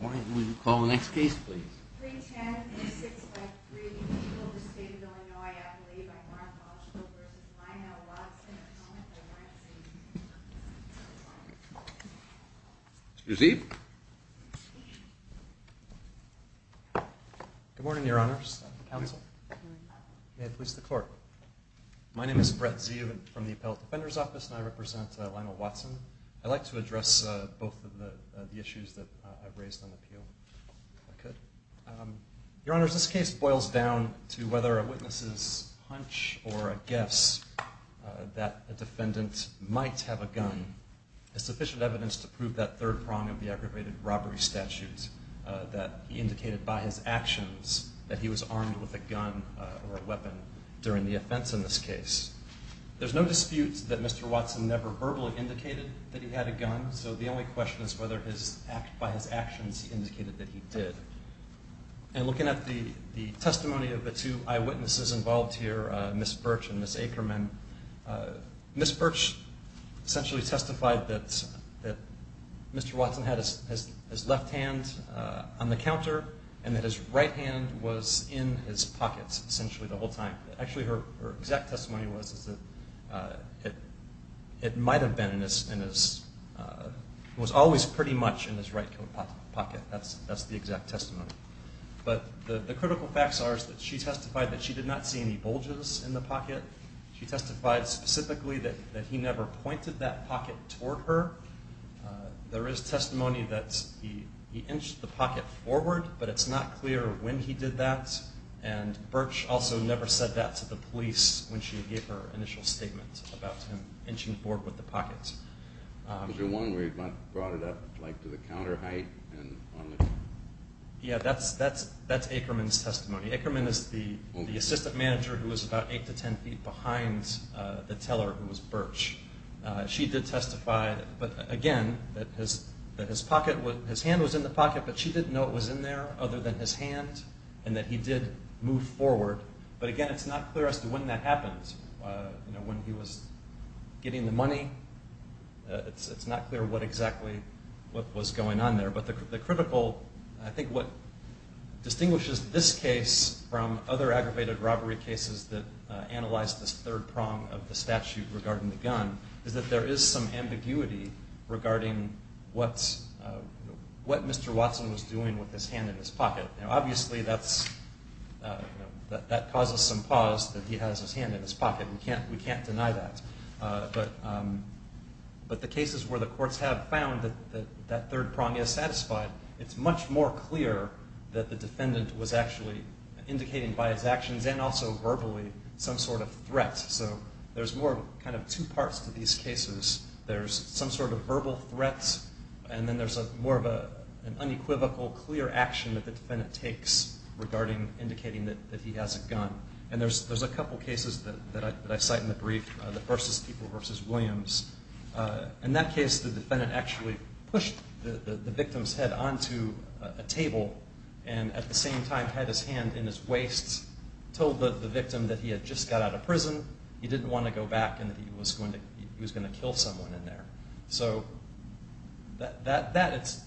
Why don't we call the next case, please? 310-8653, Eagle, the state of Illinois, Appalachia, by Mark Walshville v. Lionel Watson, a comment by Mark Walshville. Excuse me. Good morning, Your Honors. Counsel. May it please the Court. My name is Brett Zeeuw from the Appellate Defender's Office, and I represent Lionel Watson. I'd like to address both of the issues that I've raised on the appeal, if I could. Your Honors, this case boils down to whether a witness's hunch or a guess that a defendant might have a gun is sufficient evidence to prove that third prong of the aggravated robbery statute that he indicated by his actions that he was armed with a gun or a weapon during the offense in this case. There's no dispute that Mr. Watson never verbally indicated that he had a gun, so the only question is whether by his actions he indicated that he did. And looking at the testimony of the two eyewitnesses involved here, Ms. Birch and Ms. Ackerman, Ms. Birch essentially testified that Mr. Watson had his left hand on the counter and that his right hand was in his pocket, essentially, the whole time. Actually, her exact testimony was that it might have been in his... It was always pretty much in his right pocket. That's the exact testimony. But the critical facts are that she testified that she did not see any bulges in the pocket. She testified specifically that he never pointed that pocket toward her. There is testimony that he inched the pocket forward, but it's not clear when he did that. And Birch also never said that to the police when she gave her initial statement about him inching forward with the pocket. Was there one where he brought it up to the counter height? Yeah, that's Ackerman's testimony. Ackerman is the assistant manager who was about 8 to 10 feet behind the teller, who was Birch. She did testify, again, that his hand was in the pocket, but she didn't know it was in there other than his hand and that he did move forward. But again, it's not clear as to when that happened. When he was getting the money, it's not clear what exactly was going on there. But the critical... I think what distinguishes this case from other aggravated robbery cases that analyze this third prong of the statute regarding the gun is that there is some ambiguity regarding what Mr. Watson was doing with his hand in his pocket. Now, obviously, that causes some pause that he has his hand in his pocket. We can't deny that. But the cases where the courts have found that that third prong is satisfied, it's much more clear that the defendant was actually indicating by his actions and also verbally some sort of threat. So there's more kind of two parts to these cases. There's some sort of verbal threat, and then there's more of an unequivocal, clear action that the defendant takes regarding indicating that he has a gun. And there's a couple cases that I cite in the brief. The first is People v. Williams. In that case, the defendant actually pushed the victim's head onto a table and at the same time had his hand in his waist, told the victim that he had just got out of prison, he didn't want to go back, and that he was going to kill someone in there. So that,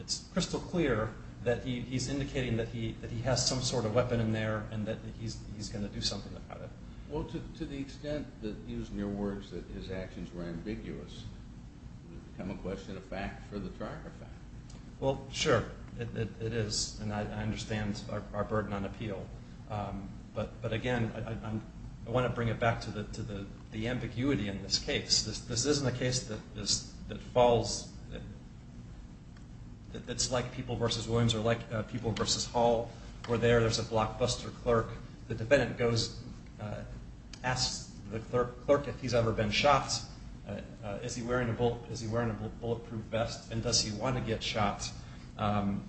it's crystal clear that he's indicating that he has some sort of weapon in there and that he's going to do something about it. Well, to the extent that, using your words, that his actions were ambiguous, it would become a question of fact for the charge of fact. Well, sure, it is. And I understand our burden on appeal. But again, I want to bring it back to the ambiguity in this case. This isn't a case that falls... that's like People v. Williams or like People v. Hall, where there's a blockbuster clerk. The defendant asks the clerk if he's ever been shot, is he wearing a bulletproof vest, and does he want to get shot, and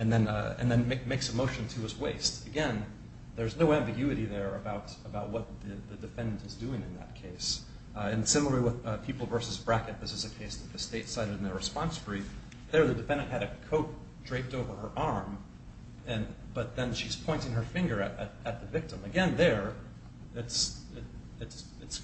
then makes a motion to his waist. Again, there's no ambiguity there about what the defendant is doing in that case. And similarly with People v. Brackett, this is a case that the state cited in their response brief. There, the defendant had a coat draped over her arm, but then she's pointing her finger at the victim. Again, there, it's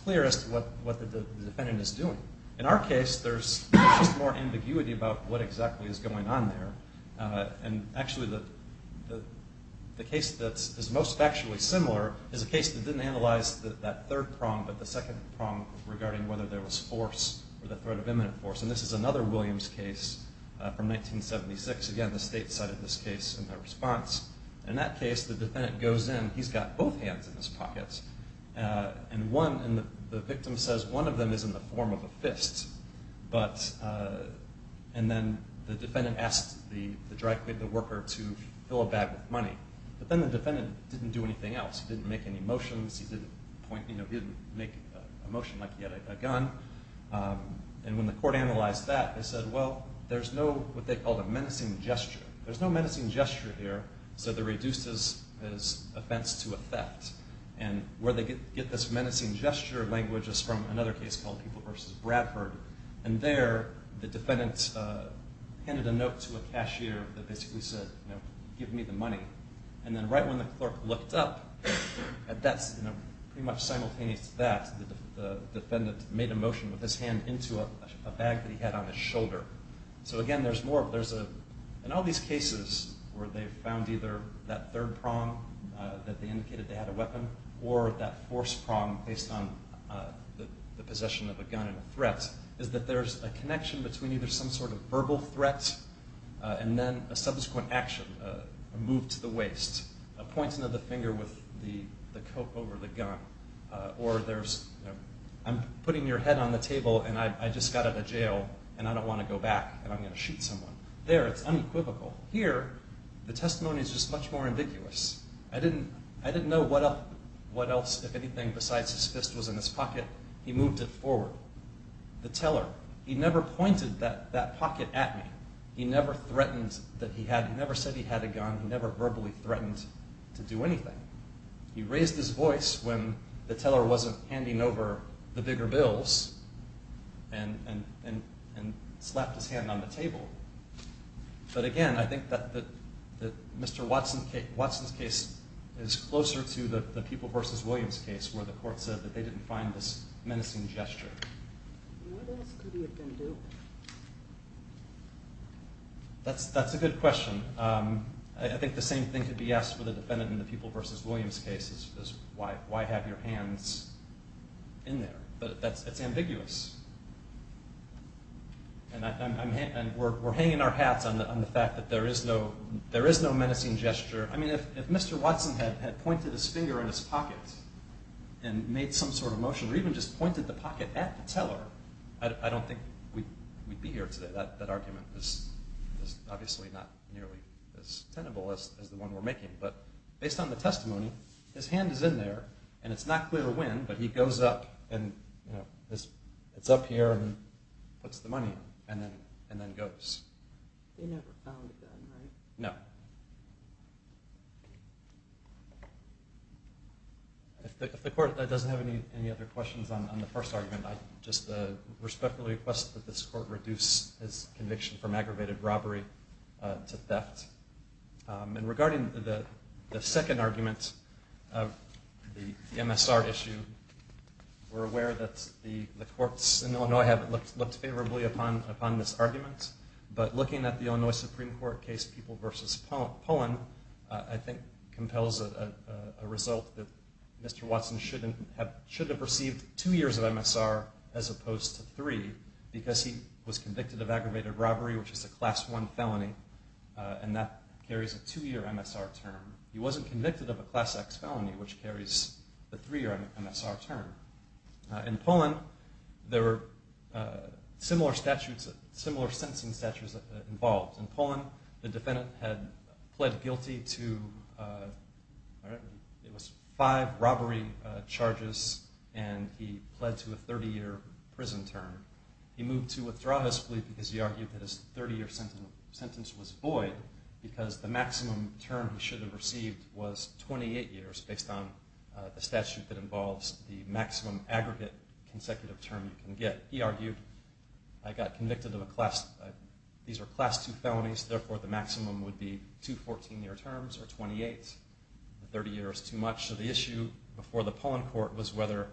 clear as to what the defendant is doing. In our case, there's just more ambiguity about what exactly is going on there. And actually, the case that is most factually similar is a case that didn't analyze that third prong, but the second prong regarding whether there was force or the threat of imminent force. And this is another Williams case from 1976. Again, the state cited this case in their response. In that case, the defendant goes in, he's got both hands in his pockets, and the victim says one of them is in the form of a fist. And then the defendant asked the worker to fill a bag with money. But then the defendant didn't do anything else. He didn't make any motions. He didn't make a motion like he had a gun. And when the court analyzed that, they said, well, there's no what they called a menacing gesture. There's no menacing gesture here, so that reduces his offense to a theft. And where they get this menacing gesture language is from another case called People v. Bradford. And there, the defendant handed a note to a cashier that basically said, you know, give me the money. And then right when the clerk looked up, pretty much simultaneous to that, the defendant made a motion with his hand into a bag that he had on his shoulder. So again, there's more. In all these cases where they found either that third prong that they indicated they had a weapon or that force prong based on the possession of a gun and a threat is that there's a connection between either some sort of verbal threat and then a subsequent action, a move to the waist, a pointing of the finger with the coat over the gun, or there's, you know, I'm putting your head on the table and I just got out of jail and I don't want to go back and I'm going to shoot someone. There, it's unequivocal. Here, the testimony is just much more ambiguous. I didn't know what else, if anything, besides his fist was in his pocket. He moved it forward. The teller, he never pointed that pocket at me. He never threatened that he had, he never said he had a gun. He never verbally threatened to do anything. He raised his voice when the teller wasn't handing over the bigger bills and slapped his hand on the table. But again, I think that Mr. Watson's case is closer to the People v. Williams case where the court said that they didn't find this menacing gesture. What else could he have been doing? That's a good question. I think the same thing could be asked for the defendant in the People v. Williams case is why have your hands in there? But it's ambiguous. And we're hanging our hats on the fact that there is no, there is no menacing gesture. I mean, if Mr. Watson had pointed his finger in his pocket and made some sort of motion or even just pointed the pocket at the teller, I don't think we'd be here today. That argument is obviously not nearly as tenable as the one we're making. But based on the testimony, his hand is in there and it's not clear when, but he goes up and, you know, it's up here and puts the money in and then goes. They never found the gun, right? No. If the court doesn't have any other questions on the first argument, I just respectfully request that this court reduce his conviction from aggravated robbery to theft. And regarding the second argument of the MSR issue, we're aware that the courts in Illinois have looked favorably upon this argument. But looking at the Illinois Supreme Court case, People v. Poland, I think compels a result that Mr. Watson shouldn't have, should have received two years of MSR as opposed to three because he was convicted of aggravated robbery, which is a Class I felony, and that carries a two-year MSR term. He wasn't convicted of a Class X felony, which carries a three-year MSR term. In Poland, there were similar statutes, similar sentencing statutes involved. In Poland, the defendant had pled guilty to, it was five robbery charges and he pled to a 30-year prison term. He moved to withdrawal his plea because he argued that his 30-year sentence was void was 28 years based on the statute that involves the maximum aggregate consecutive term you can get. He argued, I got convicted of a Class, these are Class II felonies, therefore the maximum would be two 14-year terms or 28, 30 years too much. So the issue before the Poland court was whether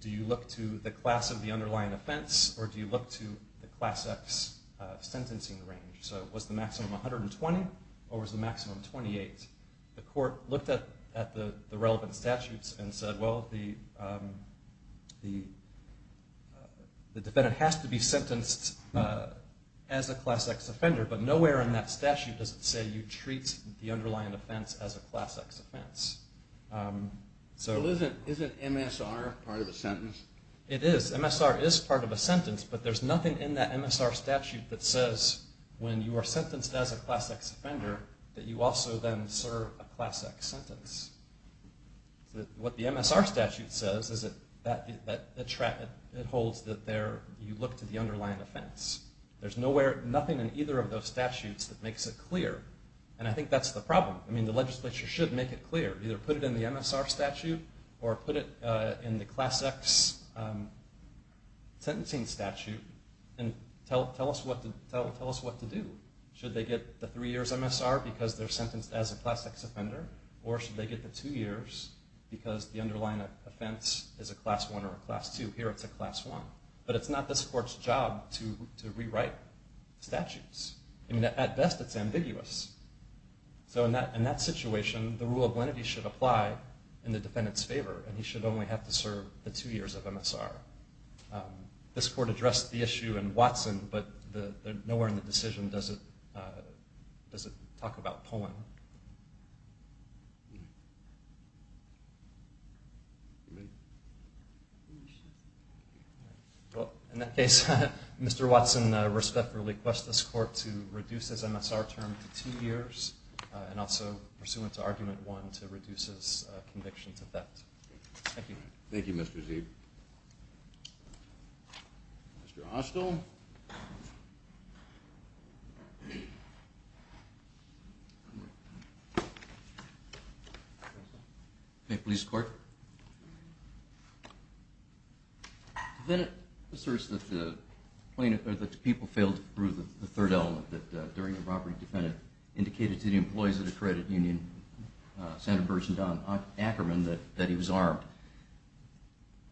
do you look to the class of the underlying offense or do you look to the Class X sentencing range. So was the maximum 120 or was the maximum 28? The court looked at the relevant statutes and said, well, the defendant has to be sentenced as a Class X offender, but nowhere in that statute does it say you treat the underlying offense as a Class X offense. So isn't MSR part of a sentence? It is. MSR is part of a sentence, but there's nothing in that MSR statute that says when you are sentenced as a Class X offender that you also then serve a Class X sentence. What the MSR statute says is that it holds that you look to the underlying offense. There's nothing in either of those statutes that makes it clear, and I think that's the problem. I mean, the legislature should make it clear. Either put it in the MSR statute or put it in the Class X sentencing statute and tell us what to do. Should they get the three years MSR because they're sentenced as a Class X offender or should they get the two years because the underlying offense is a Class I or a Class II? Here it's a Class I. But it's not this court's job to rewrite statutes. I mean, at best it's ambiguous. So in that situation, the rule of lenity should apply in the defendant's favor and he should only have to serve the two years of MSR. This court addressed the issue in Watson, but nowhere in the decision does it talk about Poland. Well, in that case, Mr. Watson, I respectfully request this court to reduce his MSR term to two years and also pursuant to Argument 1 to reduce his conviction to theft. Thank you. Thank you, Mr. Zeeb. Mr. Hostel. Okay, please, court. The defendant asserts that the plaintiff, or that the people failed to prove the third element that during the robbery defendant indicated to the employees of the credit union, Santa Cruz and Ackerman, that he was armed.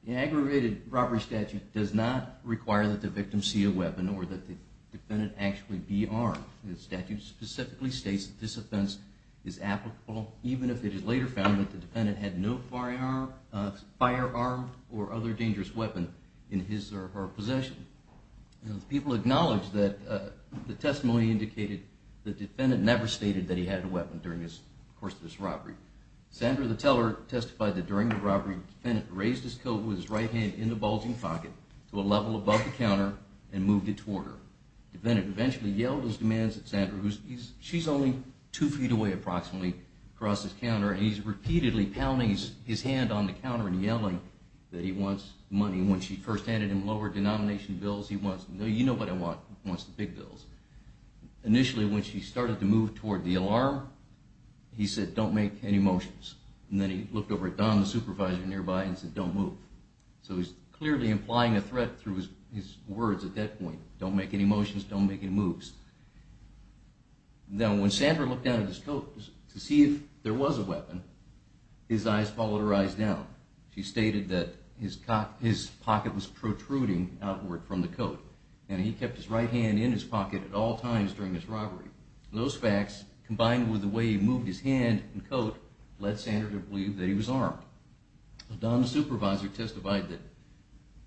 The aggravated robbery statute does not require that the victim see a weapon or that the defendant actually be armed. The statute specifically states that this offense is applicable even if it is later found that the defendant had no firearm or other dangerous weapon in his or her possession. People acknowledge that the testimony indicated during the course of this robbery. Sandra the teller testified that during the robbery the defendant raised his coat with his right hand in the bulging pocket to a level above the counter and moved it toward her. The defendant eventually yelled his demands at Sandra, who's only two feet away approximately across the counter, and he's repeatedly pounding his hand on the counter and yelling that he wants money. When she first handed him lower denomination bills, he wants, you know what I want, he wants the big bills. Initially, when she started to move toward the alarm, he said, don't make any motions. And then he looked over at Don, the supervisor nearby, and said, don't move. So he's clearly implying a threat through his words at that point. Don't make any motions, don't make any moves. Now when Sandra looked down at his coat to see if there was a weapon, his eyes followed her eyes down. She stated that his pocket was protruding outward from the coat, and he kept his right hand in his pocket at all times during this robbery. Those facts, combined with the way he moved his hand and coat, led Sandra to believe that he was armed. Don, the supervisor, testified that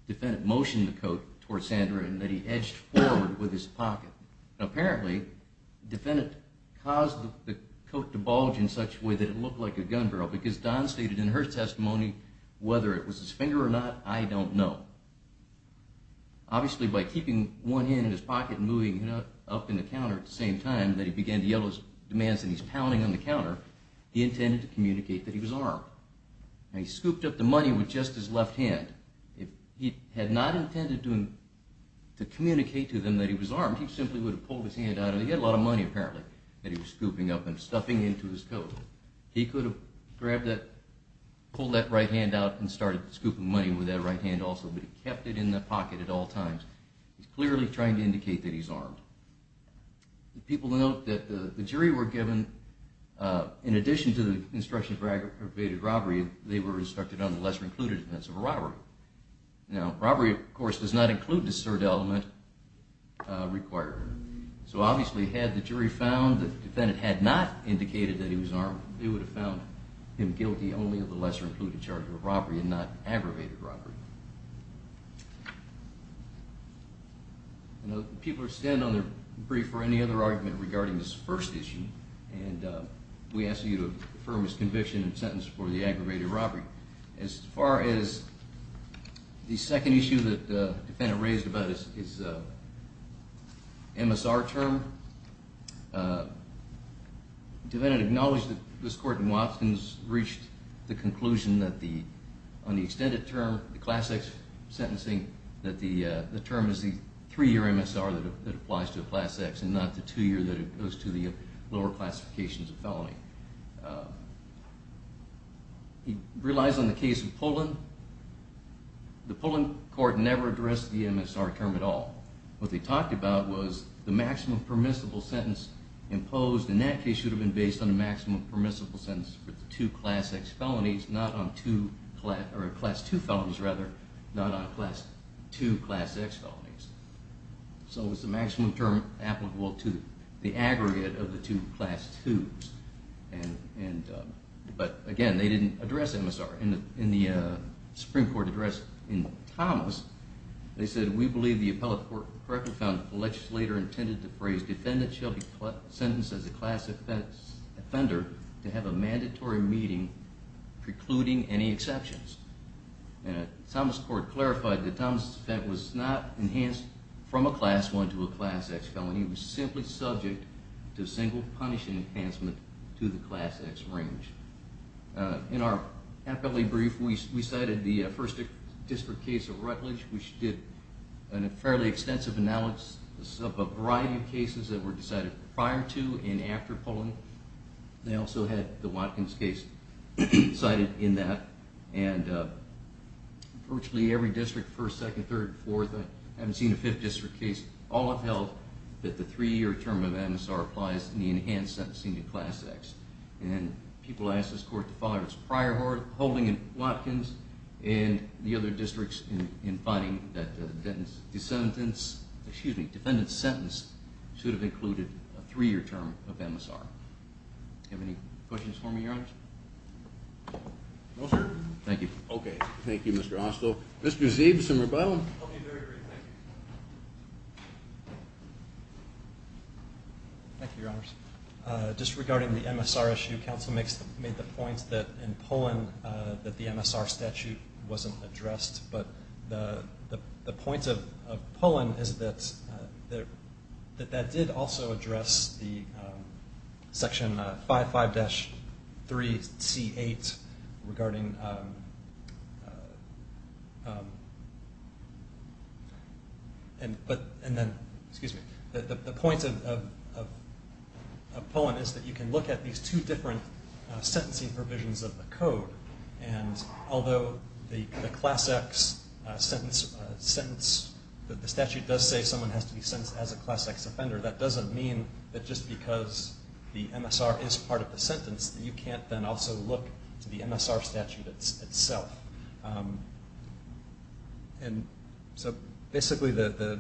the defendant motioned the coat toward Sandra and that he edged forward with his pocket. Apparently, the defendant caused the coat to bulge in such a way that it looked like a gun barrel because Don stated in her testimony, whether it was his finger or not, I don't know. Obviously, by keeping one hand in his pocket and moving it up in the counter at the same time that he began to yell his demands and he's pounding on the counter, he intended to communicate that he was armed. He scooped up the money with just his left hand. If he had not intended to communicate to them that he was armed, he simply would have pulled his hand out, and he had a lot of money, apparently, that he was scooping up and stuffing into his coat. He could have pulled that right hand out and started scooping money with that right hand also, but he kept it in the pocket at all times. He's clearly trying to indicate that he's armed. People note that the jury were given, in addition to the instructions for aggravated robbery, they were instructed on the lesser-included offense of a robbery. Now, robbery, of course, does not include the third element required. So obviously, had the jury found that the defendant had not indicated that he was armed, they would have found him guilty only of the lesser-included charge of a robbery and not aggravated robbery. I don't know if people are going to stand on their brief or any other argument regarding this first issue, and we ask that you affirm his conviction and sentence for the aggravated robbery. As far as the second issue that the defendant raised about his MSR term, the defendant acknowledged that this court in Watkins reached the conclusion that on the extended term, the class X sentencing, that the term is the three-year MSR that applies to a class X and not the two-year that goes to the lower classifications of felony. He relies on the case of Pullen. The Pullen court never addressed the MSR term at all. What they talked about was the maximum permissible sentence imposed, and that case should have been based on a maximum permissible sentence for the two class X felonies, or class II felonies rather, not on two class X felonies. So it was the maximum term applicable to the aggregate of the two class IIs. But again, they didn't address MSR. In the Supreme Court address in Thomas, they said, We believe the appellate court correctly found that the legislator intended the phrase defendant shall be sentenced as a class offender to have a mandatory meeting precluding any exceptions. Thomas court clarified that Thomas' defense was not enhanced from a class I to a class X felony. It was simply subject to single punishment enhancement to the class X range. In our appellate brief, we cited the first district case of Rutledge, which did a fairly extensive analysis of a variety of cases that were decided prior to and after Pullen. They also had the Watkins case cited in that, and virtually every district, first, second, third, and fourth, I haven't seen a fifth district case, all have held that the three-year term of MSR applies in the enhanced sentencing to class X. And people asked this court to follow its prior holding in Watkins and the other districts in finding that the defendant's sentence should have included a three-year term of MSR. Do you have any questions for me, Your Honors? No, sir. Thank you. Okay, thank you, Mr. Onstow. Mr. Zeeb, some rebuttal? I'll be very brief, thank you. Thank you, Your Honors. Just regarding the MSR issue, counsel made the point that in Pullen that the MSR statute wasn't addressed, but the point of Pullen is that that did also address the section 55-3C8 regarding the point of Pullen is that you can look at these two different sentencing provisions of the code, and although the class X sentence, the statute does say someone has to be sentenced as a class X offender, that doesn't mean that just because the MSR is part of the sentence that you can't then also look to the MSR statute itself. And so basically the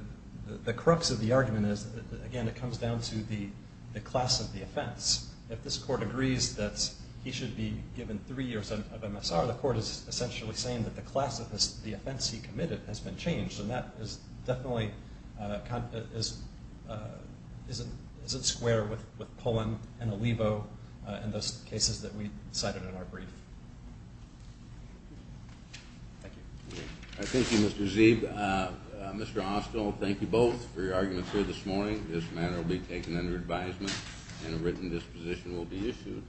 crux of the argument is, again, it comes down to the class of the offense. If this court agrees that he should be given three years of MSR, the court is essentially saying that the class of the offense he committed has been changed, and that definitely isn't square with Pullen and Alivo and those cases that we cited in our brief. Thank you. Thank you, Mr. Zeeb. Mr. Austell, thank you both for your arguments here this morning. This matter will be taken under advisement, and a written disposition will be issued.